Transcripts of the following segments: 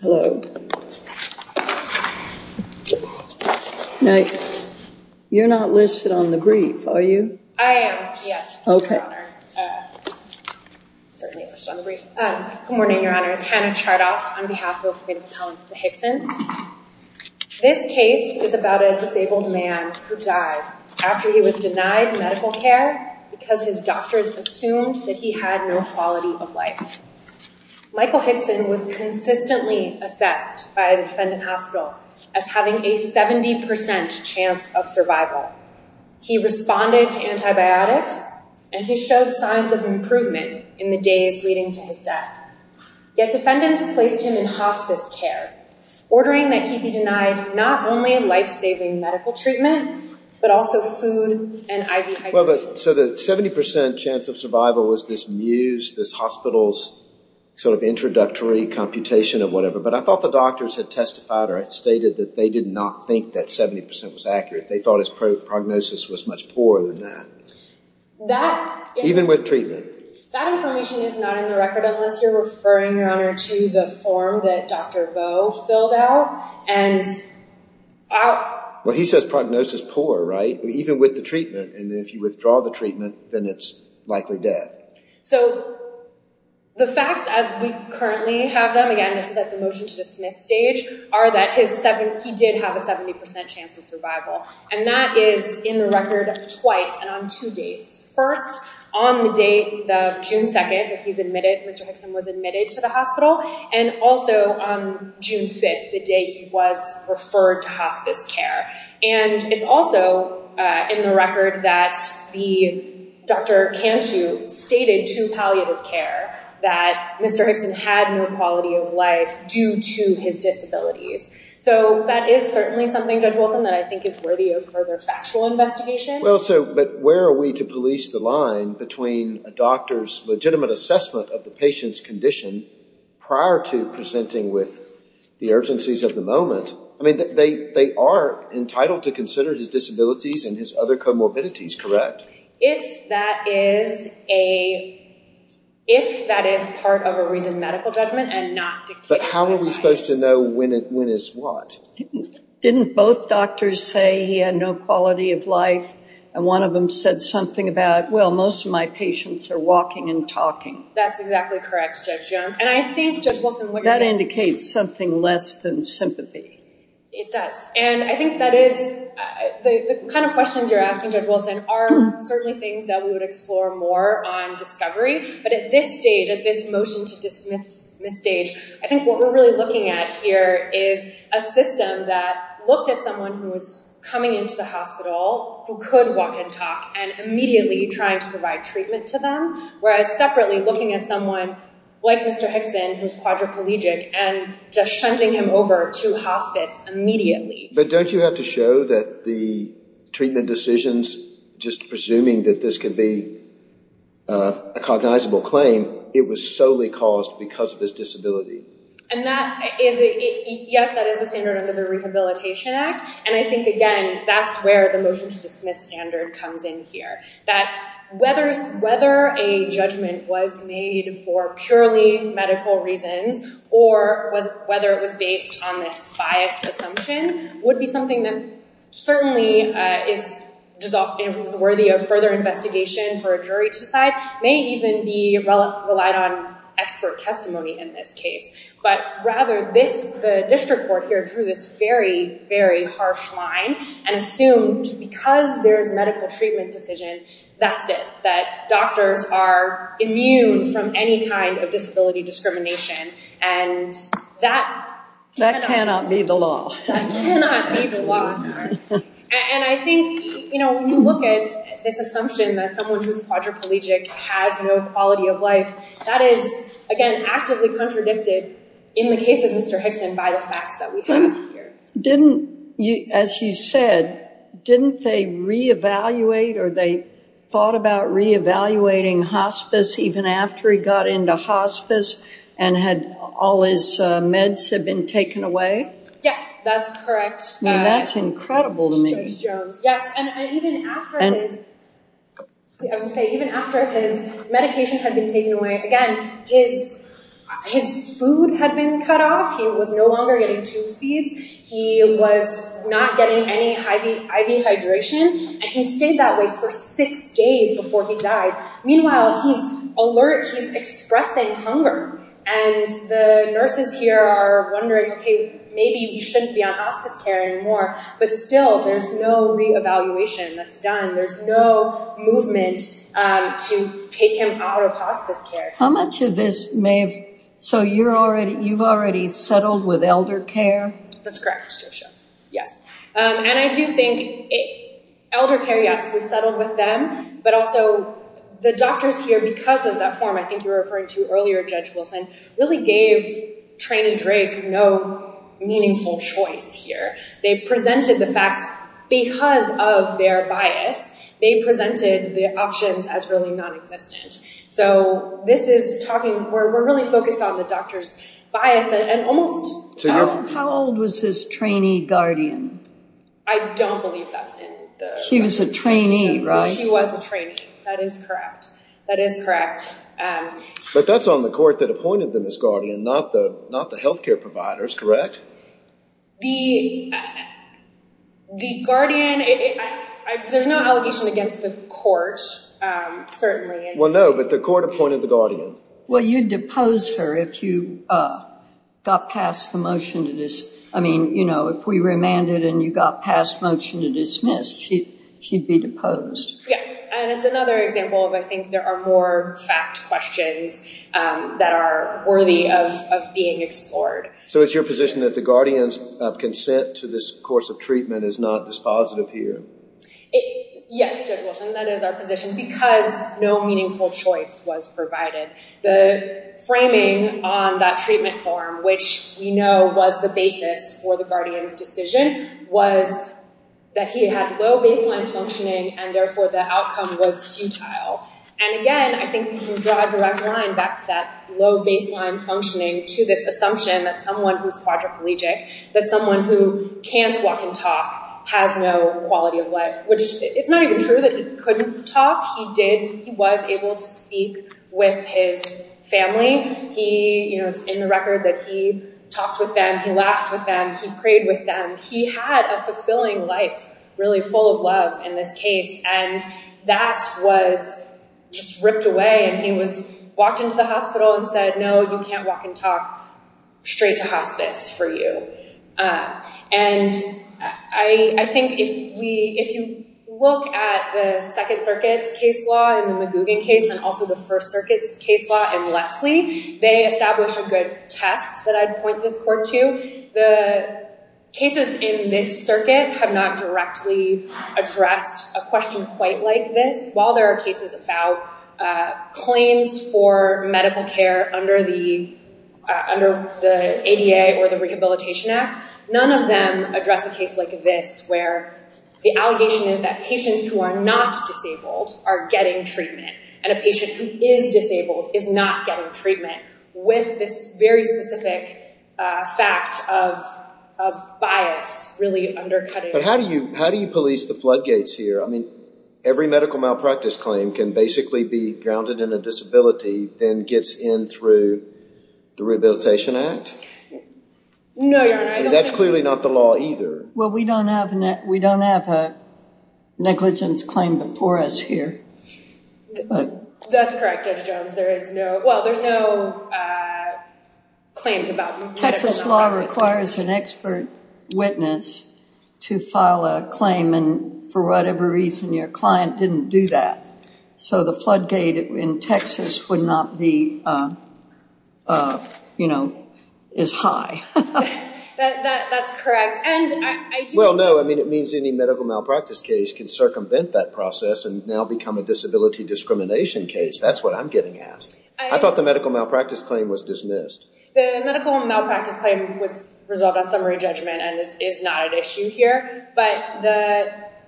Hello. Now, you're not listed on the brief, are you? I am, yes, your honor. Certainly listed on the brief. Good morning, your honor. It's Hannah Chardoff on behalf of the Hickson's. This case is about a disabled man who died after he was denied medical care because his doctors assumed that he had no quality of life. Michael Hickson was consistently assessed by a defendant hospital as having a 70% chance of survival. He responded to antibiotics and he showed signs of improvement in the days leading to his death. Yet defendants placed him in hospice care, ordering that he be denied not only life-saving medical treatment, but also food and IV hydration. So the 70% chance of survival was this muse, this hospital's sort of introductory computation of whatever. But I thought the doctors had testified or had stated that they did not think that 70% was accurate. They thought his prognosis was much poorer than that. Even with treatment. That information is not in the record unless you're referring, your honor, to the form that Dr. Vo filled out. Well, he says prognosis poor, right? Even with the treatment. And if you withdraw the treatment, then it's likely death. So the facts as we currently have them, again, this is at the motion to dismiss stage, are that he did have a 70% chance of survival. And that is in the record twice and on two dates. First, on the date of June 2nd that he's admitted, Mr. Hickson was admitted to the hospital. And also on June 5th, the day he was referred to hospice care. And it's also in the record that Dr. Cantu stated to palliative care that Mr. Hickson had no quality of life due to his disabilities. So that is certainly something, Judge Wilson, that I think is worthy of further factual investigation. Well, but where are we to police the line between a doctor's legitimate assessment of the patient's condition prior to presenting with the urgencies of the moment? I are entitled to consider his disabilities and his other comorbidities, correct? If that is part of a reasoned medical judgment and not dictated by- But how are we supposed to know when is what? Didn't both doctors say he had no quality of life? And one of them said something about, well, most of my patients are walking and talking. That's exactly correct, Judge Jones. And I think, Judge Wilson- That indicates something less than sympathy. It does. And I think that is the kind of questions you're asking, Judge Wilson, are certainly things that we would explore more on discovery. But at this stage, at this motion to dismiss stage, I think what we're really looking at here is a system that looked at someone who was coming into the hospital, who could walk and talk, and immediately trying to provide treatment to them. Whereas separately looking at someone like Mr. Hickson, who's quadriplegic, and just shunting him over to hospice immediately. But don't you have to show that the treatment decisions, just presuming that this could be a cognizable claim, it was solely caused because of his disability? Yes, that is the standard under the Rehabilitation Act. And I think, again, that's where the motion to dismiss standard comes in here. That whether a judgment was made for purely medical reasons, or whether it was based on this biased assumption, would be something that certainly is worthy of further investigation for a jury to decide. May even be relied on expert testimony in this case. But rather, the district court here drew this very, very harsh line, and assumed because there's medical treatment decision, that's it. Doctors are immune from any kind of disability discrimination, and that... That cannot be the law. That cannot be the law. And I think, when you look at this assumption that someone who's quadriplegic has no quality of life, that is, again, actively contradicted in the case of Mr. Hickson by the facts that we have here. As you said, didn't they re-evaluate, or they thought about re-evaluating hospice even after he got into hospice, and had all his meds have been taken away? Yes, that's correct. That's incredible to me. Yes, and even after his... I would say, even after his medication had been taken away, again, his food had been cut off. He was no longer getting tube feeds. He was not getting any IV hydration, and he stayed that way for six days before he died. Meanwhile, he's alert. He's expressing hunger, and the nurses here are wondering, okay, maybe he shouldn't be on hospice care anymore. But still, there's no re-evaluation that's done. There's no movement to take him out of hospice care. How much of this may have... So, you've already settled with elder care? That's correct, Josia. Yes, and I do think elder care, yes, we've settled with them, but also the doctors here, because of that form I think you were referring to earlier, Judge Wilson, really gave Trane and Drake no meaningful choice here. They presented the facts because of their bias. They presented the options as really non-existent. So, this is talking... We're focused on the doctor's bias and almost... How old was his trainee guardian? I don't believe that's in the... She was a trainee, right? She was a trainee. That is correct. That is correct. But that's on the court that appointed them as guardian, not the healthcare providers, correct? The guardian... There's no allegation against the court, certainly. Well, no, but the court appointed the guardian. Well, you'd depose her if you got past the motion to dismiss. I mean, you know, if we remanded and you got past motion to dismiss, she'd be deposed. Yes, and it's another example of I think there are more fact questions that are worthy of being explored. So, it's your position that the guardian's consent to this course of treatment is not dispositive here? It... Yes, Judge Wilson, that is our position because no meaningful choice was provided. The framing on that treatment form, which we know was the basis for the guardian's decision, was that he had low baseline functioning and therefore the outcome was futile. And again, I think we can draw a direct line back to that low baseline functioning to this assumption that someone who's quadriplegic, that someone who can't walk and talk, has no quality of life, which it's not even true that he couldn't talk. He was able to speak with his family. It's in the record that he talked with them, he laughed with them, he prayed with them. He had a fulfilling life, really full of love in this case. And that was just ripped away and he walked into the hospital and said, no, you can't walk and talk, straight to hospice for you. And I think if you look at the Second Circuit's case law and the Magoogan case and also the First Circuit's case law and Leslie, they establish a good test that I'd point this court to. The cases in this circuit have not directly addressed a question quite like this. While there are cases about claims for medical care under the ADA or the Rehabilitation Act, none of them address a case like this where the allegation is that patients who are not disabled are getting treatment and a patient who is disabled is not getting treatment with this very specific fact of bias really undercutting. But how do you police the floodgates here? I mean, every medical malpractice claim can basically be grounded in a disability, then gets in through the Rehabilitation Act? No, Your Honor. That's clearly not the law either. Well, we don't have a negligence claim before us here. That's correct, Judge Jones. There is no, well, there's no claims about medical malpractice. Texas law requires an expert witness to file a claim and for whatever reason, your client didn't do that. So the floodgate in Texas would not be, you know, is high. That's correct. Well, no, I mean, it means any medical malpractice case can circumvent that process and now become a disability discrimination case. That's what I'm getting at. I thought the medical malpractice claim was dismissed. The medical malpractice claim was resolved on summary judgment and this is not an issue here. But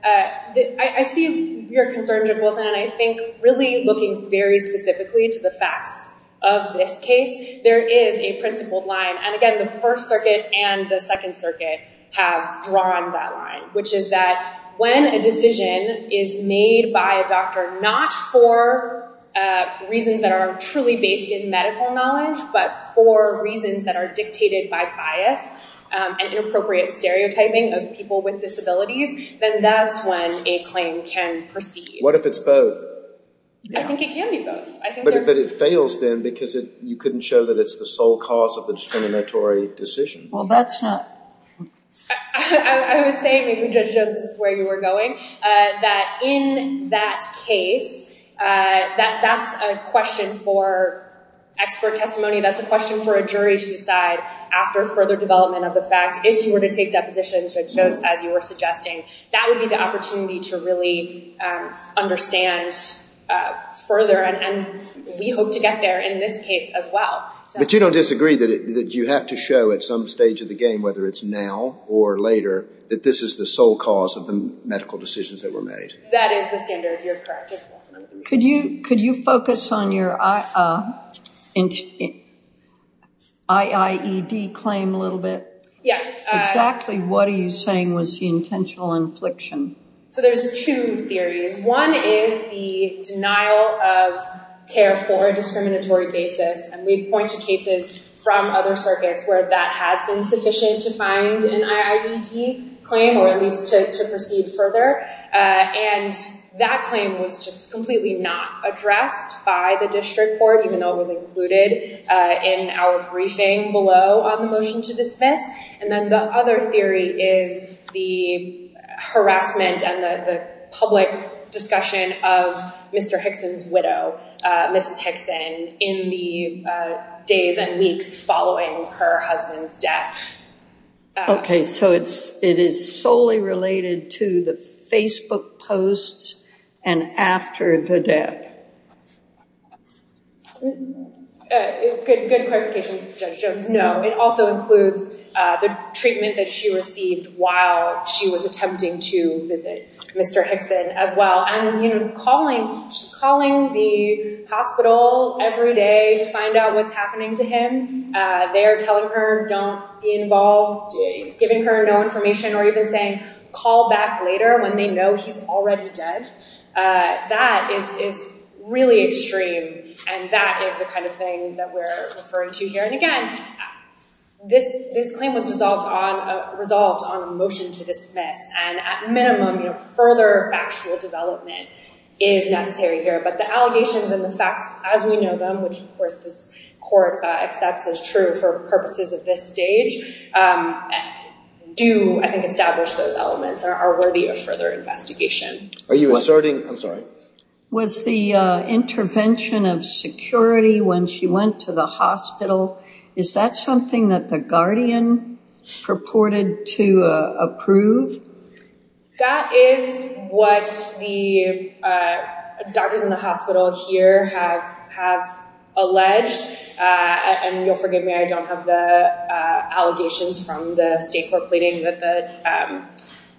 I see your concern, Judge Wilson, and I think really looking very specifically to the facts of this case, there is a principled line. And again, the First Circuit and the Second Circuit have drawn that line, which is that when a decision is made by a doctor, not for reasons that are truly based in medical knowledge, but for reasons that are dictated by bias and inappropriate stereotyping of people with disabilities, then that's when a claim can proceed. What if it's both? I think it can be both. But it fails then because you couldn't show that it's the sole cause of the discriminatory decision. Well, that's not... I would say, maybe Judge Jones is where you were going, that in that case, that's a question for expert testimony. That's a question for a jury to decide after further development of the fact. If you were to take depositions, Judge Jones, as you were suggesting, that would be the opportunity to really understand further. And we hope to get there in this case as well. But you don't disagree that you have to show at some stage of the game, whether it's now or later, that this is the sole cause of the medical decisions that were made? That is the standard. You're correct, Judge Wilson. Could you focus on your IIED claim a little bit? Exactly what are you saying was the intentional infliction? So there's two theories. One is the denial of care for a discriminatory basis. And we point to cases from other circuits where that has been sufficient to find an IIED claim, or at least to proceed further. And that claim was just completely not addressed by the district court, even though it was included in our briefing below on the motion to dismiss. And then the other theory is the harassment and the public discussion of Mr. Hickson's widow, Mrs. Hickson, in the days and weeks following her husband's death. Okay. So it is solely related to the Facebook posts and after the death? Good clarification, Judge Jones. No. It also includes the treatment that she received while she was attempting to visit Mr. Hickson as well. And she's calling the hospital every day to find out what's happening to him. They're telling her, don't be involved, giving her no information, or even saying, call back later when they know he's already dead. That is really extreme. And that is the kind of thing that we're referring to here. And again, this claim was resolved on a motion to dismiss. And at minimum, further factual development is necessary here. But the allegations and the facts as we know them, which of course this court accepts as true for purposes of this stage, do, I think, establish those elements are worthy of further investigation. Are you asserting? I'm sorry. Was the intervention of security when she went to the hospital, is that something that the guardian purported to approve? That is what the doctors in the hospital here have alleged. And you'll forgive me, I don't have the allegations from the state court pleading that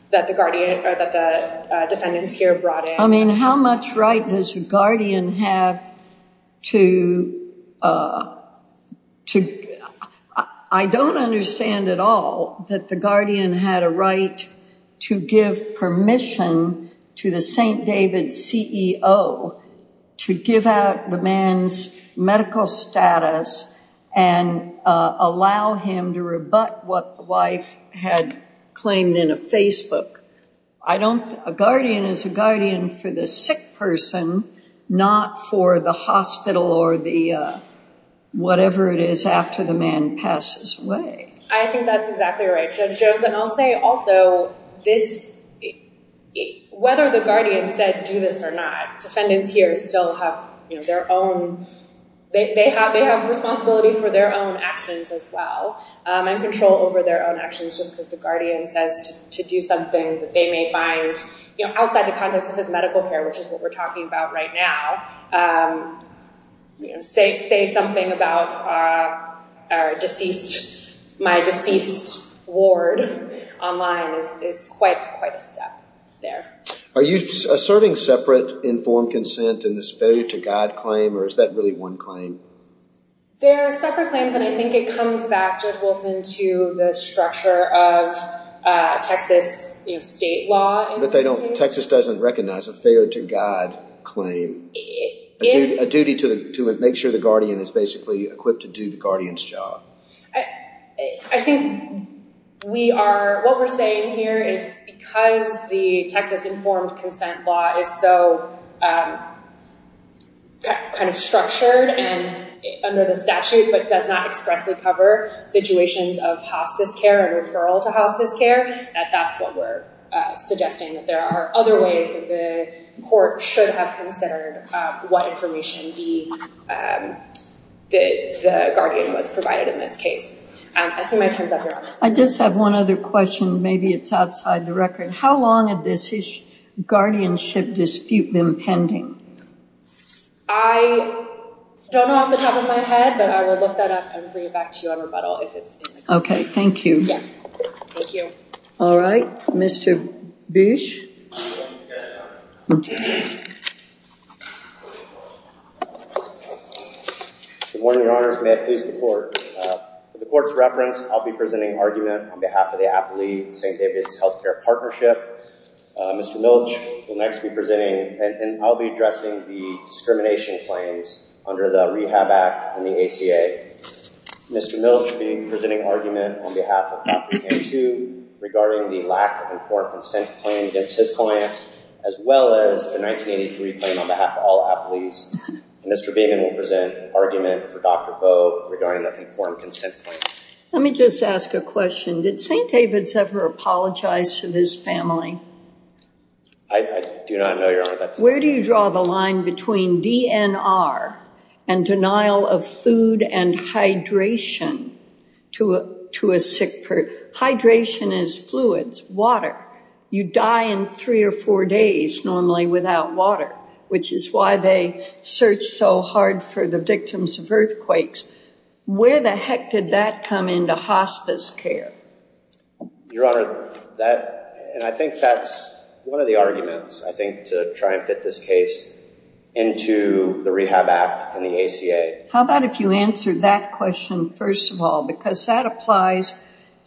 the defendants here brought in. I mean, how much right does a guardian have to... I don't understand at all that the guardian had a to give permission to the St. David's CEO to give out the man's medical status and allow him to rebut what the wife had claimed in a Facebook. A guardian is a guardian for the sick person, not for the hospital or the whatever it is after the man passes away. I think that's exactly right, Judge Jones. And I'll say also, whether the guardian said do this or not, defendants here still have their own... They have responsibility for their own actions as well and control over their own actions just because the guardian says to do something that they may find outside the context of his medical care, which is what we're talking about right now. Say something about my deceased ward online is quite a step there. Are you asserting separate informed consent in this failure to guide claim, or is that really one claim? There are separate claims, and I think it comes back, Judge Wilson, to the structure of Texas state law. But Texas doesn't recognize a failure to guide claim. A duty to make sure the guardian is basically equipped to do the guardian's job. I think what we're saying here is because the Texas informed consent law is so kind of structured and under the statute, but does not expressly cover situations of hospice care and referral to hospice care, that that's what we're suggesting, that there are other ways that the court should have considered what information the guardian was provided in this case. I see my time's up, Your Honor. I just have one other question. Maybe it's outside the record. How long had this guardianship dispute been pending? I don't know off the top of my head, but I will look that up and bring it back to you on rebuttal if it's... Okay, thank you. Yeah, thank you. All right. Mr. Bish? Good morning, Your Honors. May it please the court. For the court's reference, I'll be presenting argument on behalf of the Appley-St. David's Health Care Partnership. Mr. Milch will next be presenting, and I'll be addressing the discrimination claims under the Rehab Act and the ACA. Mr. Milch will be presenting argument on behalf of Appley and regarding the lack of informed consent claim against his client, as well as the 1983 claim on behalf of all Appley's. Mr. Beaman will present argument for Dr. Bowe regarding that informed consent claim. Let me just ask a question. Did St. David's ever apologize to this family? I do not know, Your Honor. Where do you draw the line between DNR and denial of food and hydration to a sick person? Hydration is fluids, water. You die in three or four days normally without water, which is why they search so hard for the victims of earthquakes. Where the heck did that come into hospice care? Your Honor, and I think that's one of the How about if you answer that question first of all, because that applies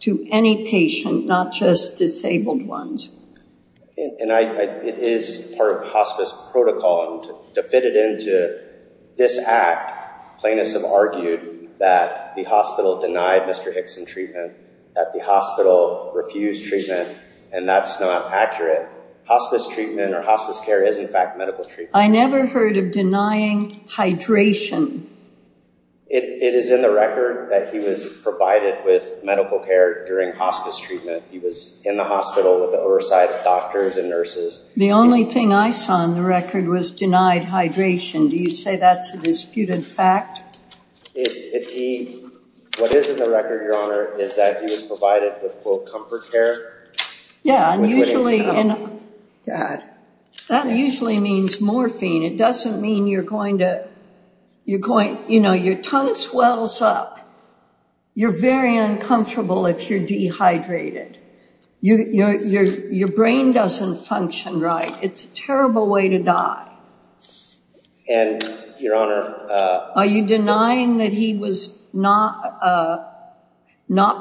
to any patient, not just disabled ones. It is part of hospice protocol, and to fit it into this act, plaintiffs have argued that the hospital denied Mr. Hickson treatment, that the hospital refused treatment, and that's not accurate. Hospice treatment or hospice care is, in fact, medical I never heard of denying hydration. It is in the record that he was provided with medical care during hospice treatment. He was in the hospital with the oversight of doctors and nurses. The only thing I saw in the record was denied hydration. Do you say that's a disputed fact? What is in the record, Your Honor, is that he was provided with, quote, comfort care. Yeah, and usually, that usually means morphine. It doesn't mean you're going to, you're going, you know, your tongue swells up. You're very uncomfortable if you're dehydrated. Your brain doesn't function right. It's a terrible way to die. And, Your Honor, are you denying that he was not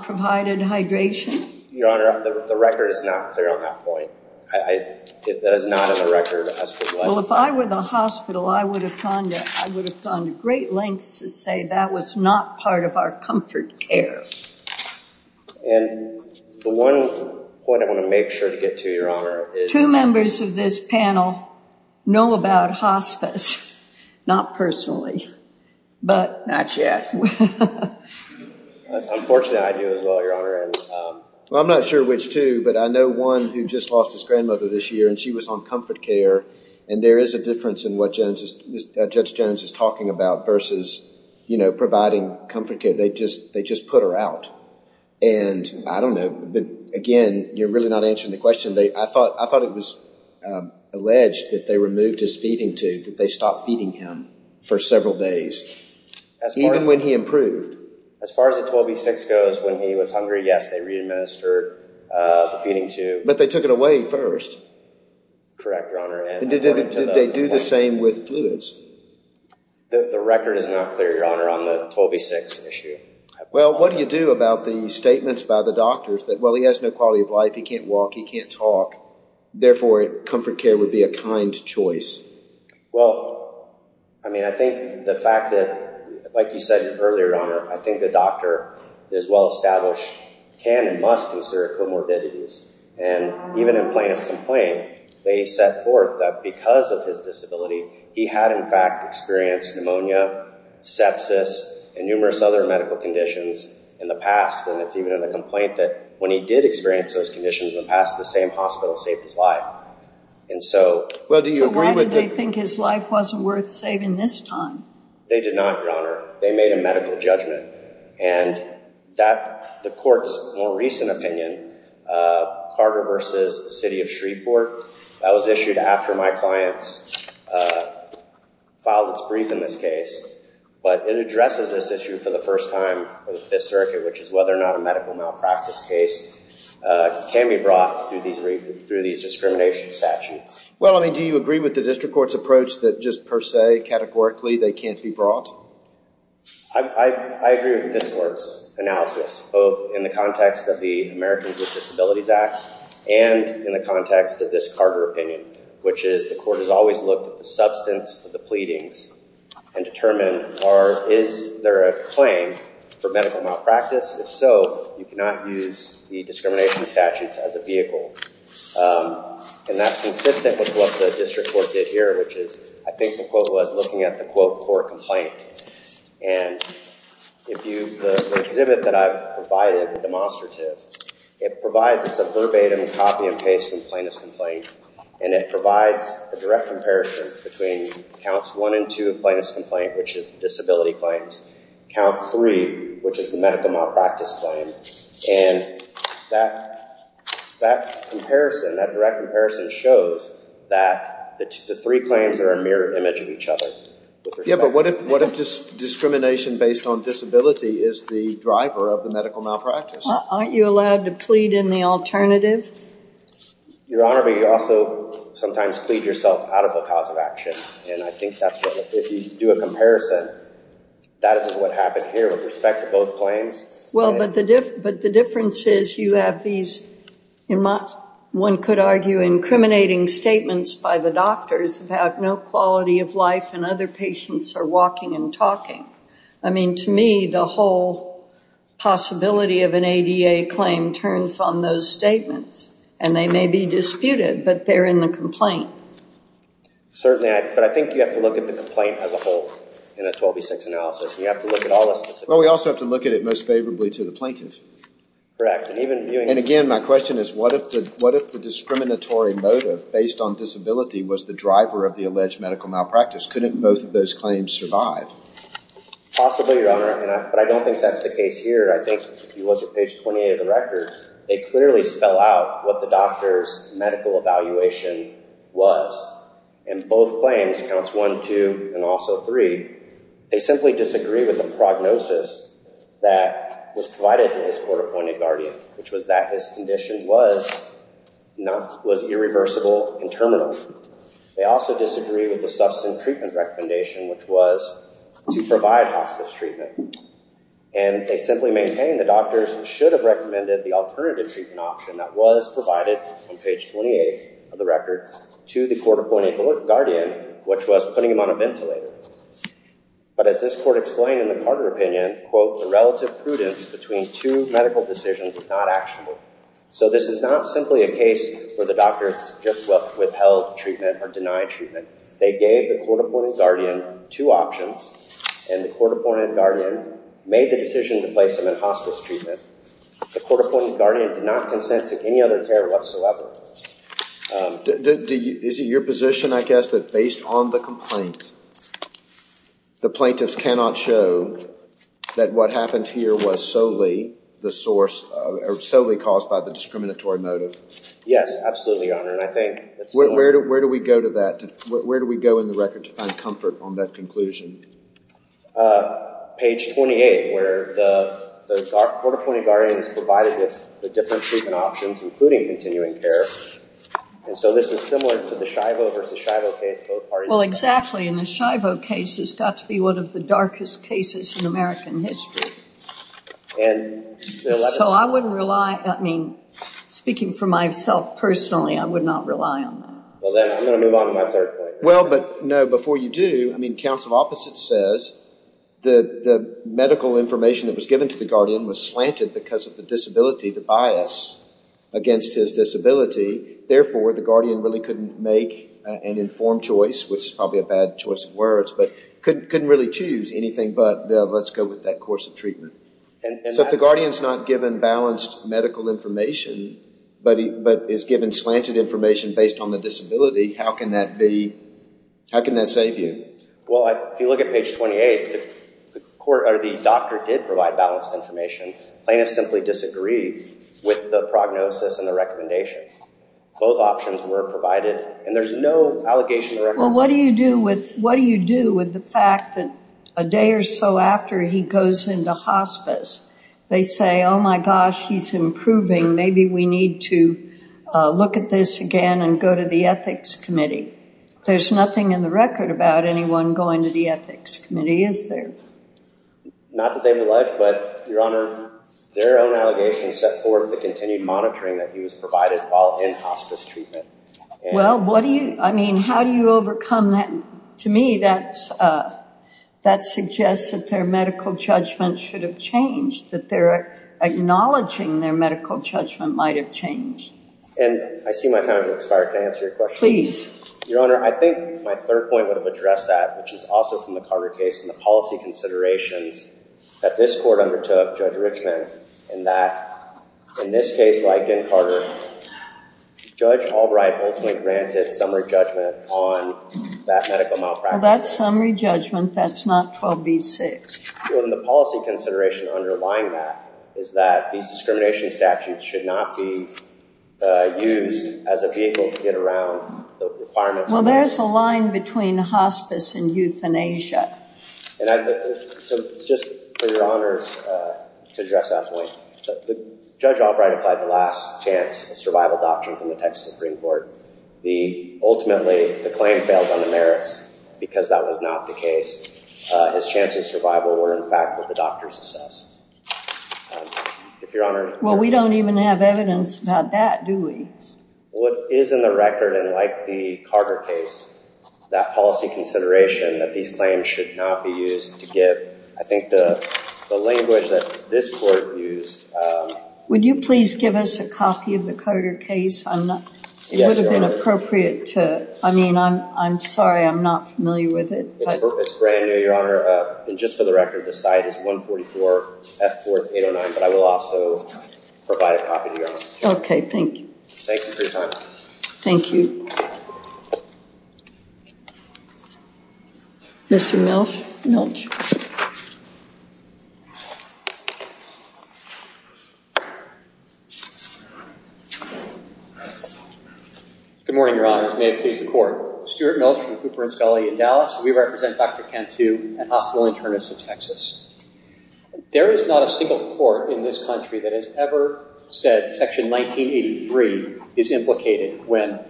provided hydration? Your Honor, the record is not clear on that point. That is not in the record as to why. Well, if I were the hospital, I would have gone to great lengths to say that was not part of our comfort care. And the one point I want to make sure to get to, Your Honor, is... Two members of this panel know about hospice. Not personally, but... Not yet. Unfortunately, I do as well, Your Honor. Well, I'm not sure which two, but I know one who just lost his grandmother this year, and she was on comfort care. And there is a difference in what Judge Jones is talking about versus, you know, providing comfort care. They just put her out. And I don't know. Again, you're really not answering the question. I thought it was alleged that they removed they stopped feeding him for several days, even when he improved. As far as the 12V6 goes, when he was hungry, yes, they re-administered the feeding tube. But they took it away first. Correct, Your Honor. And did they do the same with fluids? The record is not clear, Your Honor, on the 12V6 issue. Well, what do you do about the statements by the doctors that, well, he has no quality of life. He can't walk. He can't talk. Therefore, comfort care would be a kind choice. Well, I mean, I think the fact that, like you said earlier, Your Honor, I think the doctor is well established, can and must consider comorbidities. And even in Plaintiff's complaint, they set forth that because of his disability, he had, in fact, experienced pneumonia, sepsis, and numerous other medical conditions in the past. And it's even in the complaint that when he did experience those conditions in the past, the same hospital saved his life. And so— Well, do you agree with the— So why did they think his life wasn't worth saving this time? They did not, Your Honor. They made a medical judgment. And that, the Court's more recent opinion, Carter v. City of Shreveport, that was issued after my clients filed its brief in this case. But it addresses this issue for the first time with this circuit, which is whether or not a medical malpractice case can be brought through these discrimination statutes. Well, I mean, do you agree with the District Court's approach that just per se, categorically, they can't be brought? I agree with this Court's analysis, both in the context of the Americans with Disabilities Act and in the context of this Carter opinion, which is the Court has always looked at the substance of the pleadings and determined, is there a claim for medical malpractice? If so, you cannot use the discrimination statutes as a vehicle. And that's consistent with what the District Court did here, which is, I think the quote was, looking at the quote for a complaint. And if you— The exhibit that I've provided, the demonstrative, it provides— It's a verbatim copy and paste from plaintiff's complaint. And it provides a direct comparison between counts one and two of plaintiff's complaint, which is disability claims. Count three, which is the medical malpractice claim. And that comparison, that direct comparison, shows that the three claims are a mirror image of each other. Yeah, but what if discrimination based on disability is the driver of the medical malpractice? Aren't you allowed to plead in the alternative? Your Honor, but you also sometimes plead yourself out of the cause of action. And I think that's what— If you do a comparison, that isn't what happened here with respect to both claims. Well, but the difference is you have these, one could argue, incriminating statements by the doctors about no quality of life and other patients are walking and talking. I mean, to me, the whole possibility of an ADA claim turns on those statements. And they may be disputed, but they're in the complaint. Certainly, but I think you have to look at the complaint as a whole in a 12B6 analysis. You have to look at all those— Well, we also have to look at it most favorably to the plaintiff. Correct, and even viewing— And again, my question is, what if the discriminatory motive based on disability was the driver of the alleged medical malpractice? Couldn't both of those claims survive? Possibly, Your Honor, but I don't think that's the case here. I think if you look at page 28 of the record, they clearly spell out what the doctor's medical evaluation was in both claims, counts one, two, and also three. They simply disagree with the prognosis that was provided to his court-appointed guardian, which was that his condition was irreversible and terminal. They also disagree with the substance treatment recommendation, which was to provide hospice treatment. And they simply maintain the doctors should have recommended the alternative treatment option that was provided on page 28 of the record to the court-appointed guardian, which was putting him on a ventilator. But as this court explained in the Carter opinion, quote, the relative prudence between two medical decisions is not actionable. So this is not simply a case where the doctors just withheld treatment or denied treatment. They gave the court-appointed guardian two options, and the court-appointed guardian made the decision to place him in hospice treatment. The court-appointed guardian did not consent to any other care whatsoever. Is it your position, I guess, that based on the complaint, the plaintiffs cannot show that what happened here was solely the source, solely caused by the discriminatory motive? Yes, absolutely, Your Honor. And I think it's... Where do we go to that? Where do we go in the record to find comfort on that conclusion? Uh, page 28, where the court-appointed guardian is provided with the different treatment options, including continuing care. And so this is similar to the Schiavo versus Schiavo case, both parties... Well, exactly. And the Schiavo case has got to be one of the darkest cases in American history. And... So I wouldn't rely... I mean, speaking for myself personally, I would not rely on that. Well, then I'm going to move on to my third point. Well, but no, before you do, I mean, counts of opposites says that the medical information that was given to the guardian was slanted because of the disability, the bias against his disability. Therefore, the guardian really couldn't make an informed choice, which is probably a bad choice of words, but couldn't really choose anything but, you know, let's go with that course of treatment. So if the guardian's not given balanced medical information, but is given slanted information based on the disability, how can that be... How can that save you? Well, if you look at page 28, the court or the doctor did provide balanced information. Plaintiffs simply disagreed with the prognosis and the recommendation. Both options were provided, and there's no allegation... Well, what do you do with... What do you do with the fact that a day or so after he goes into hospice, they say, oh my gosh, he's improving. Maybe we need to look at this again and go to the ethics committee. There's nothing in the record about anyone going to the ethics committee, is there? Not that they've alleged, but, Your Honor, their own allegations set forward the continued monitoring that he was provided while in hospice treatment. Well, what do you... I mean, how do you overcome that? To me, that suggests that their medical judgment should have changed, that they're acknowledging their medical judgment might have changed. And I see my time has expired. Can I answer your question? Please. Your Honor, I think my third point would have addressed that, which is also from the Carter case, and the policy considerations that this court undertook, Judge Richman, and that, in this case, like in Carter, Judge Albright ultimately granted summary judgment on that medical malpractice. Well, that's summary judgment. That's not 12b-6. The policy consideration underlying that is that these discrimination statutes should not be used as a vehicle to get around the requirements. Well, there's a line between hospice and euthanasia. So, just for Your Honor to address that point, Judge Albright applied the last chance survival doctrine from the Texas Supreme Court. Ultimately, the claim failed on the merits because that was not the case. His chance of survival were, in fact, what the doctors assess. If Your Honor— Well, we don't even have evidence about that, do we? What is in the record, and like the Carter case, that policy consideration that these claims should not be used to give, I think, the language that this court used— Would you please give us a copy of the Carter case? It would have been appropriate to— I mean, I'm sorry. I'm not familiar with it. It's brand new, Your Honor. And just for the record, the site is 144 F4809. But I will also provide a copy to Your Honor. Okay, thank you. Thank you for your time. Thank you. Mr. Milch? Good morning, Your Honor. As may it please the Court, Stuart Milch from Cooper & Scully in Dallas. We represent Dr. Cantu, a hospital internist in Texas. There is not a single court in this country that has ever said Section 1983 is implicated when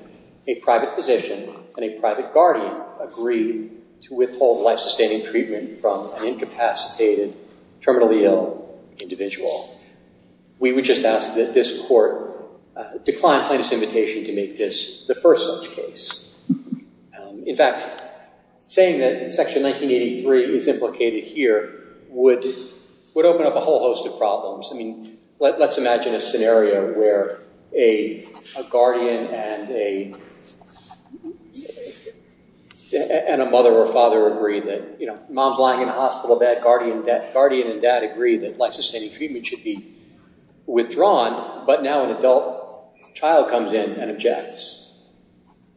a private physician and a private guardian agree to withhold life-sustaining treatment from an incapacitated, terminally ill individual. We would just ask that this court decline plaintiff's invitation to make this the first such case. In fact, saying that Section 1983 is implicated here would open up a whole host of problems. I mean, let's imagine a scenario where a guardian and a mother or father agree that, you know, mom's lying in a hospital bed, guardian and dad agree that life-sustaining treatment should be withdrawn. But now an adult child comes in and objects.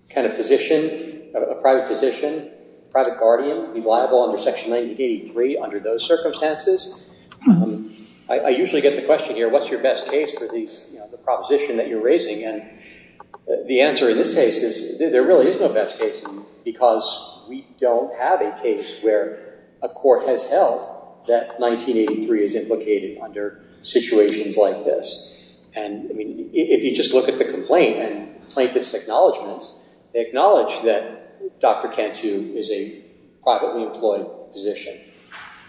Can a physician, a private physician, private guardian be liable under Section 1983 under those circumstances? I usually get the question here, what's your best case for the proposition that you're And the answer in this case is there really is no best case because we don't have a case where a court has held that 1983 is implicated under situations like this. And, I mean, if you just look at the complaint and plaintiff's acknowledgements, they acknowledge that Dr. Cantu is a privately employed physician.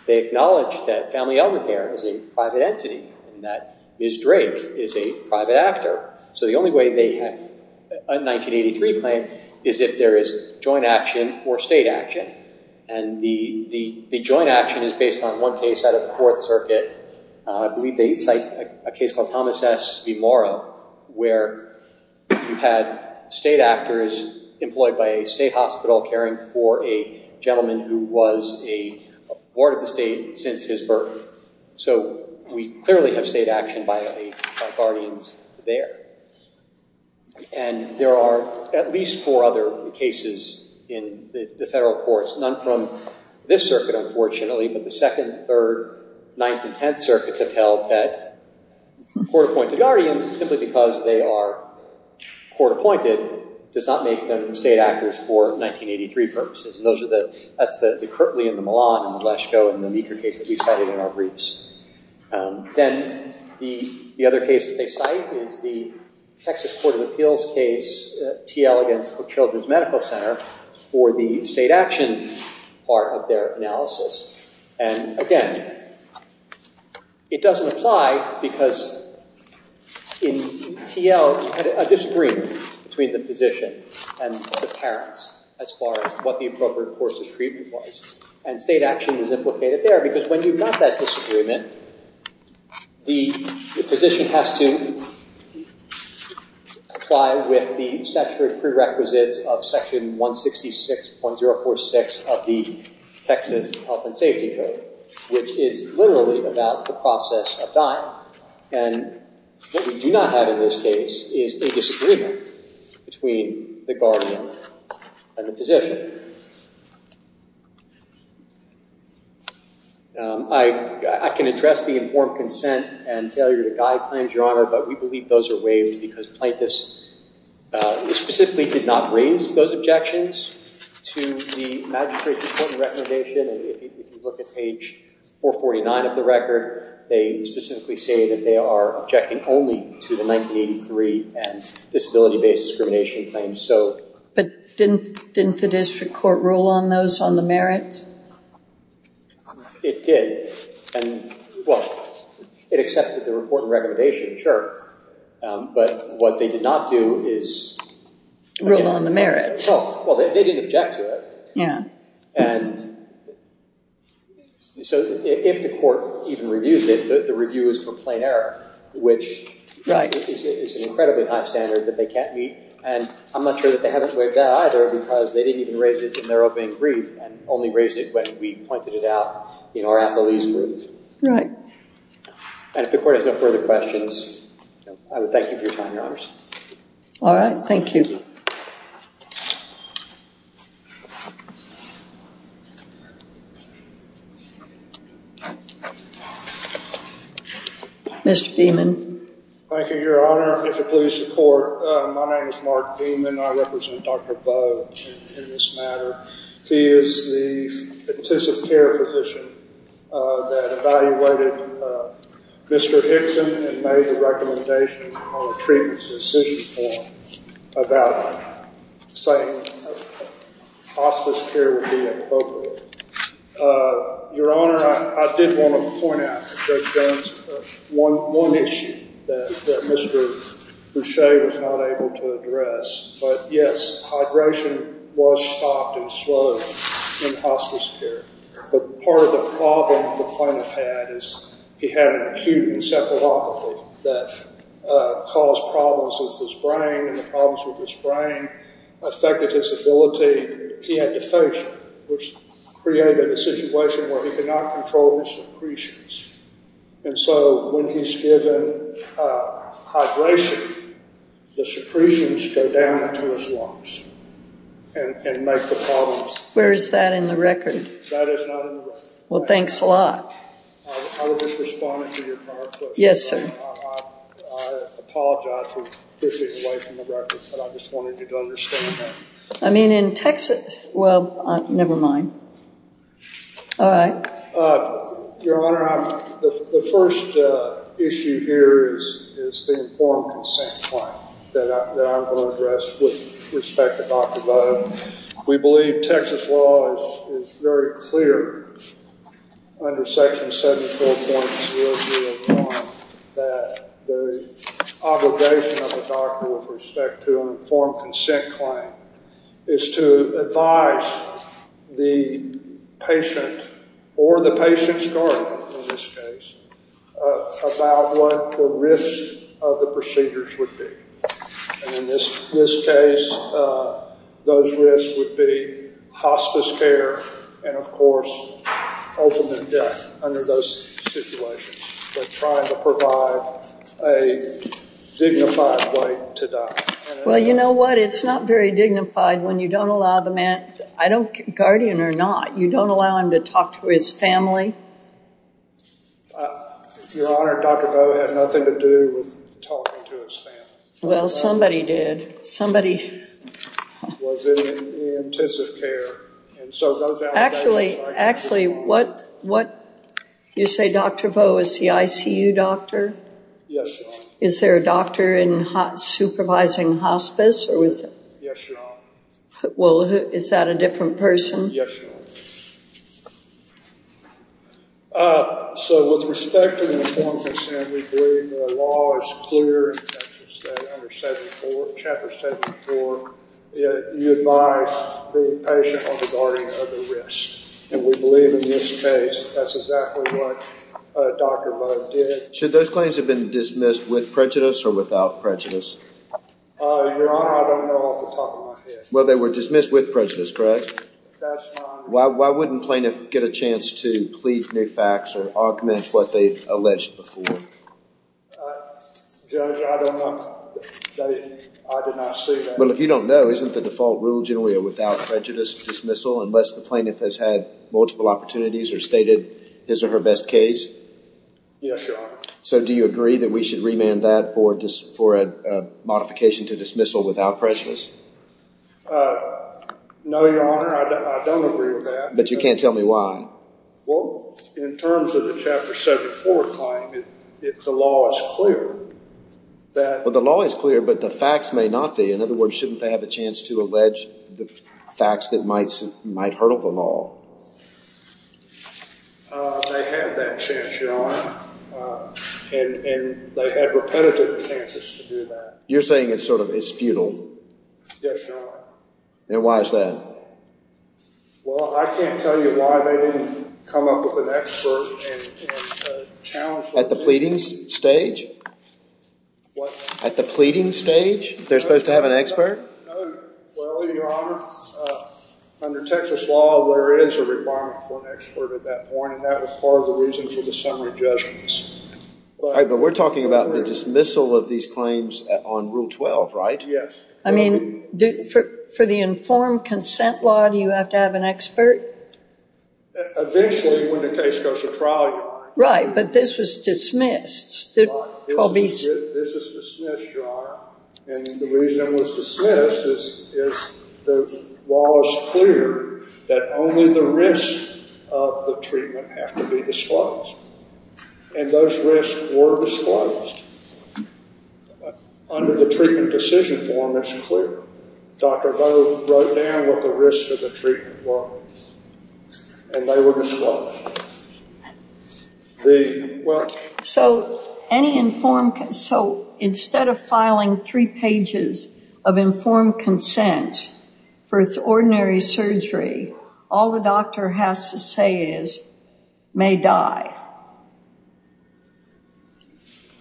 They acknowledge that Family Elmer Care is a private entity and that Ms. Drake is a private actor. So the only way they have a 1983 claim is if there is joint action or state action. And the joint action is based on one case out of Fourth Circuit. I believe they cite a case called Thomas S. V. Morrow where you had state actors employed by a state hospital caring for a gentleman who was a ward of the state since his birth. So we clearly have state action by guardians there. And there are at least four other cases in the federal courts, none from this circuit, unfortunately, but the Second, Third, Ninth, and Tenth Circuits have held that court-appointed guardians, simply because they are court-appointed, does not make them state actors for 1983 purposes. And that's the Kirtley and the Milan and the Leschko and the Meeker case that we cited in our briefs. Then the other case that they cite is the Texas Court of Appeals case, T. Elegance Children's Medical Center for the state action part of their analysis. And again, it doesn't apply because in T. Elegance you had a disagreement between the physician and the parents as far as what the appropriate course of treatment was. And state action is implicated there because when you have that disagreement, the physician has to apply with the statutory prerequisites of Section 166.046 of the Texas Health and Safety Code, which is literally about the process of dying. And what we do not have in this case is a disagreement between the guardian and the physician. I can address the informed consent and failure to guide claims, Your Honor, but we believe those are waived because plaintiffs specifically did not raise those objections to the Magistrate's important recommendation. And if you look at page 449 of the record, they specifically say that they are objecting only to the 1983 and disability-based discrimination claims. But didn't the district court rule on those on the merit? It did. And well, it accepted the report and recommendation, sure. But what they did not do is... Rule on the merit. Oh, well, they didn't object to it. Yeah. And so if the court even reviewed it, the review is for plain error, which is an incredibly high standard that they can't meet. And I'm not sure that they haven't waived that either because they didn't even raise it in their opening brief and only raised it when we pointed it out in our appellee's Right. And if the court has no further questions, I would thank you for your time, Your Honors. All right, thank you. Mr. Beaman. Thank you, Your Honor. It's a plea of support. My name is Mark Beaman. I represent Dr. Vo in this matter. He is the patient care physician that evaluated Mr. Hickson and made the recommendation on a treatment decision form about saying hospice care would be appropriate. Your Honor, I did want to point out to Judge Jones one issue that Mr. Boucher was not able to address. But yes, hydration was stopped and slowed in hospice care. But part of the problem the plaintiff had is he had an acute encephalopathy that caused problems with his brain. And the problems with his brain affected his ability, he had dephagia, which created a situation where he could not control his secretions. And so when he's given hydration, the secretions go down into his lungs and make the problems. Where is that in the record? That is not in the record. Well, thanks a lot. I was just responding to your prior question. Yes, sir. I apologize for drifting away from the record. But I just wanted you to understand that. I mean, in Texas, well, never mind. All right. Your Honor, the first issue here is the informed consent plan that I'm going to address with respect to Dr. Vo. We believe Texas law is very clear under Section 74.001 that the obligation of a doctor with respect to an informed consent claim is to advise the patient or the patient's guardian in this case about what the risk of the procedures would be. And in this case, those risks would be hospice care and, of course, ultimate death under those situations. They're trying to provide a dignified way to die. Well, you know what? It's not very dignified when you don't allow the man, guardian or not, you don't allow him to talk to his family. Your Honor, Dr. Vo had nothing to do with talking to his family. Well, somebody did. Was in intensive care. Actually, actually, what you say, Dr. Vo, is the ICU doctor? Yes, Your Honor. Is there a doctor in supervising hospice? Yes, Your Honor. Well, is that a different person? Yes, Your Honor. So, with respect to the informed consent, we believe the law is clear in Texas, Chapter 74, you advise the patient or the guardian of the risk. And we believe in this case, that's exactly what Dr. Vo did. Should those claims have been dismissed with prejudice or without prejudice? Your Honor, I don't know off the top of my head. Well, they were dismissed with prejudice, correct? That's fine. Why wouldn't plaintiff get a chance to plead new facts or augment what they've alleged before? Judge, I don't know. I did not see that. Well, if you don't know, isn't the default rule generally a without prejudice dismissal unless the plaintiff has had multiple opportunities or stated his or her best case? Yes, Your Honor. So, do you agree that we should remand that for a modification to dismissal without prejudice? No, Your Honor, I don't agree with that. But you can't tell me why? Well, in terms of the Chapter 74 claim, the law is clear that- Well, the law is clear, but the facts may not be. In other words, shouldn't they have a chance to allege the facts that might hurtle the law? They had that chance, Your Honor, and they had repetitive chances to do that. You're saying it's sort of, it's futile? Yes, Your Honor. Then why is that? Well, I can't tell you why they didn't come up with an expert and challenge- At the pleading stage? What? At the pleading stage, they're supposed to have an expert? Well, Your Honor, under Texas law, there is a requirement for an expert at that point, and that was part of the reason for the summary judgments. But we're talking about the dismissal of these claims on Rule 12, right? Yes. I mean, for the informed consent law, do you have to have an expert? Eventually, when the case goes to trial, Your Honor. Right, but this was dismissed. This was dismissed, Your Honor, and the reason it was dismissed is the law is clear that only the risks of the treatment have to be disclosed, and those risks were disclosed. But under the treatment decision form, it's clear. Dr. Doe wrote down what the risks of the treatment were, and they were disclosed. The- Well- So any informed, so instead of filing three pages of informed consent for ordinary surgery, all the doctor has to say is, may die.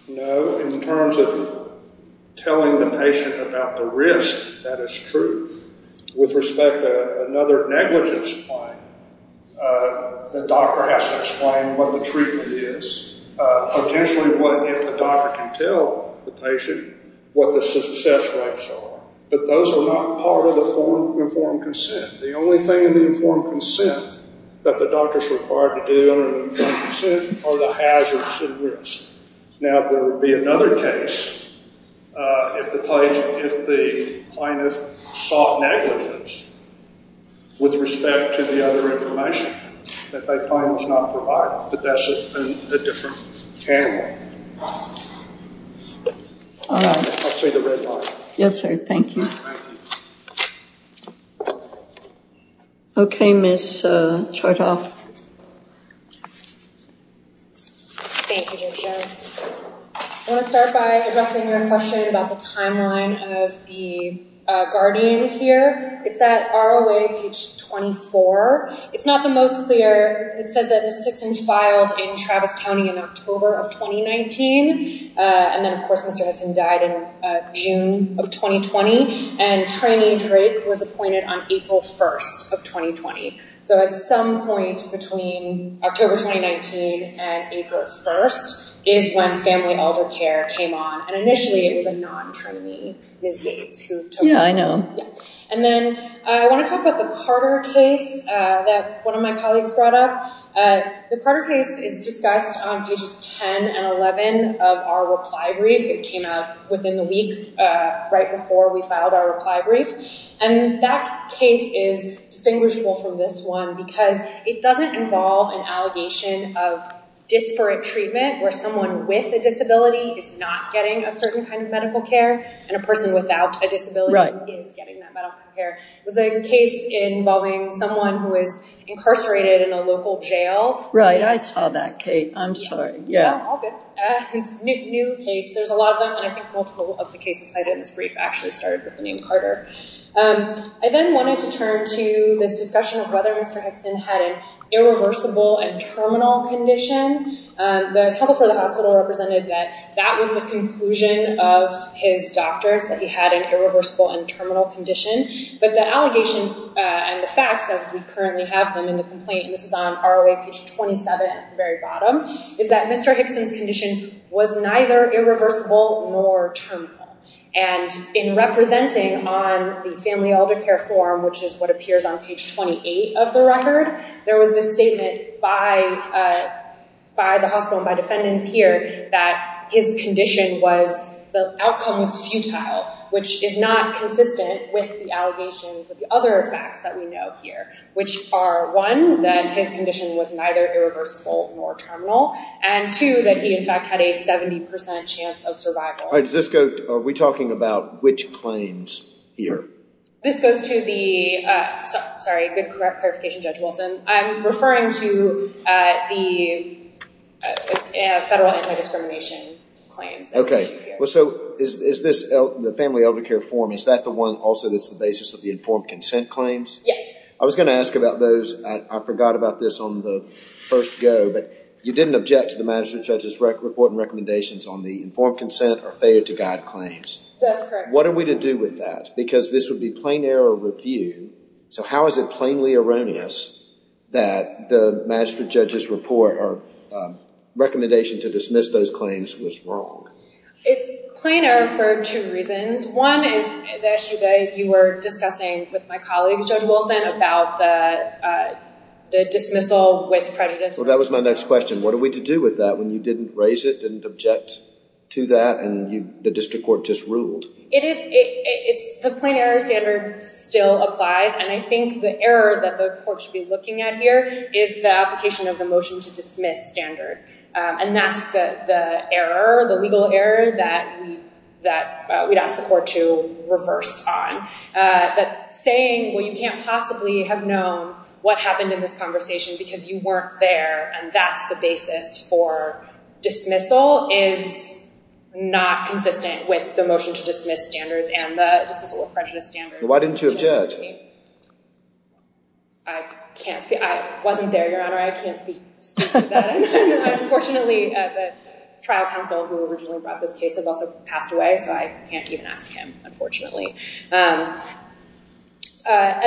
No, in terms of telling the patient about the risk, that is true. With respect to another negligence claim, the doctor has to explain what the treatment is. Potentially, what if the doctor can tell the patient what the success rates are? But those are not part of the informed consent. The only thing in the informed consent that the doctor's required to do in an informed consent are the hazards and risks. Now, there would be another case if the plaintiff sought negligence with respect to the other information that they claim was not provided, but that's a different panel. All right. I'll see the red line. Yes, sir. Thank you. Okay, Ms. Chertoff. Thank you, Jason. I want to start by addressing your question about the timeline of the guardian here. It's at ROA page 24. It's not the most clear. It says that Ms. Dixon filed in Travis County in October of 2019. And then, of course, Mr. Hudson died in June of 2020. And trainee Drake was appointed on April 1st of 2020. So at some point between October 2019 and April 1st is when family elder care came on. And initially, it was a non-trainee, Ms. Yates, who took over. Yeah, I know. And then I want to talk about the Carter case that one of my colleagues brought up. The Carter case is discussed on pages 10 and 11 of our reply brief. It came out within the week right before we filed our reply brief. And that case is distinguishable from this one because it doesn't involve an allegation of disparate treatment where someone with a disability is not getting a certain kind of medical care and a person without a disability is getting that medical care. It was a case involving someone who was incarcerated in a local jail. Right. I saw that case. I'm sorry. Yeah, all good. New case. There's a lot of them. And I think multiple of the cases cited in this brief actually started with the name Carter. I then wanted to turn to this discussion of whether Mr. Hickson had an irreversible and terminal condition. The counsel for the hospital represented that that was the conclusion of his doctor, that he had an irreversible and terminal condition. But the allegation and the facts, as we currently have them in the complaint, and this is on ROA page 27 at the very bottom, is that Mr. Hickson's condition was neither irreversible nor terminal. And in representing on the family elder care form, which is what appears on page 28 of the record, there was this statement by the hospital and by defendants here that his condition was, the outcome was futile, which is not consistent with the allegations of the other facts that we know here, which are one, that his condition was neither irreversible nor terminal, and two, that he in fact had a 70% chance of survival. Are we talking about which claims here? This goes to the, sorry, good clarification, Judge Wilson. I'm referring to the federal anti-discrimination claims. Well, so is this the family elder care form, is that the one also that's the basis of the informed consent claims? Yes. I was going to ask about those. I forgot about this on the first go, but you didn't object to the magistrate judge's report and recommendations on the informed consent or failure to guide claims. That's correct. What are we to do with that? Because this would be plain error review. So how is it plainly erroneous that the magistrate judge's report or recommendation to dismiss those claims was wrong? It's plain error for two reasons. One is the issue that you were discussing with my colleagues, Judge Wilson, about the dismissal with prejudice. That was my next question. What are we to do with that when you didn't raise it, didn't object to that, and the district court just ruled? The plain error standard still applies, and I think the error that the court should be looking at here is the application of the motion to dismiss standard. And that's the error, the legal error that we'd ask the court to reverse on. That saying, well, you can't possibly have known what happened in this conversation because you weren't there, and that's the basis for dismissal, is not consistent with the motion to dismiss standards and the dismissal with prejudice standards. Why didn't you object? I can't speak. I wasn't there, Your Honor. I can't speak to that. Unfortunately, the trial counsel who originally brought this case has also passed away, so I can't even ask him, unfortunately. And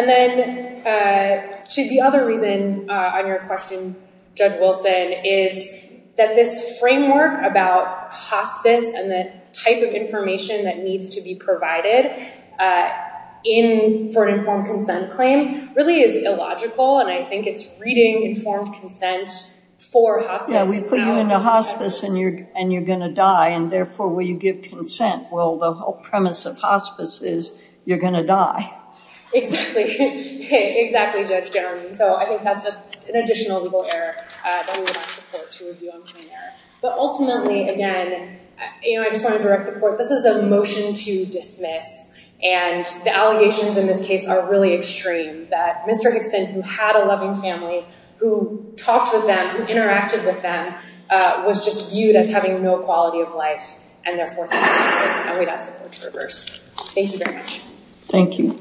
then the other reason on your question, Judge Wilson, is that this framework about hospice and the type of information that needs to be provided for an informed consent claim really is illogical, and I think it's reading informed consent for hospice. Yeah, we put you in a hospice, and you're going to die, and therefore, will you give consent? Well, the whole premise of hospice is you're going to die. Exactly. Exactly, Judge Jeremy. So I think that's an additional legal error that we would ask the court to review on claim error. But ultimately, again, I just want to direct the court, this is a motion to dismiss, and the allegations in this case are really extreme, that Mr. Hickson, who had a loving family, who talked with them, who interacted with them, was just viewed as having no quality of life, and therefore, and we'd ask the court to reverse. Thank you very much. Thank you.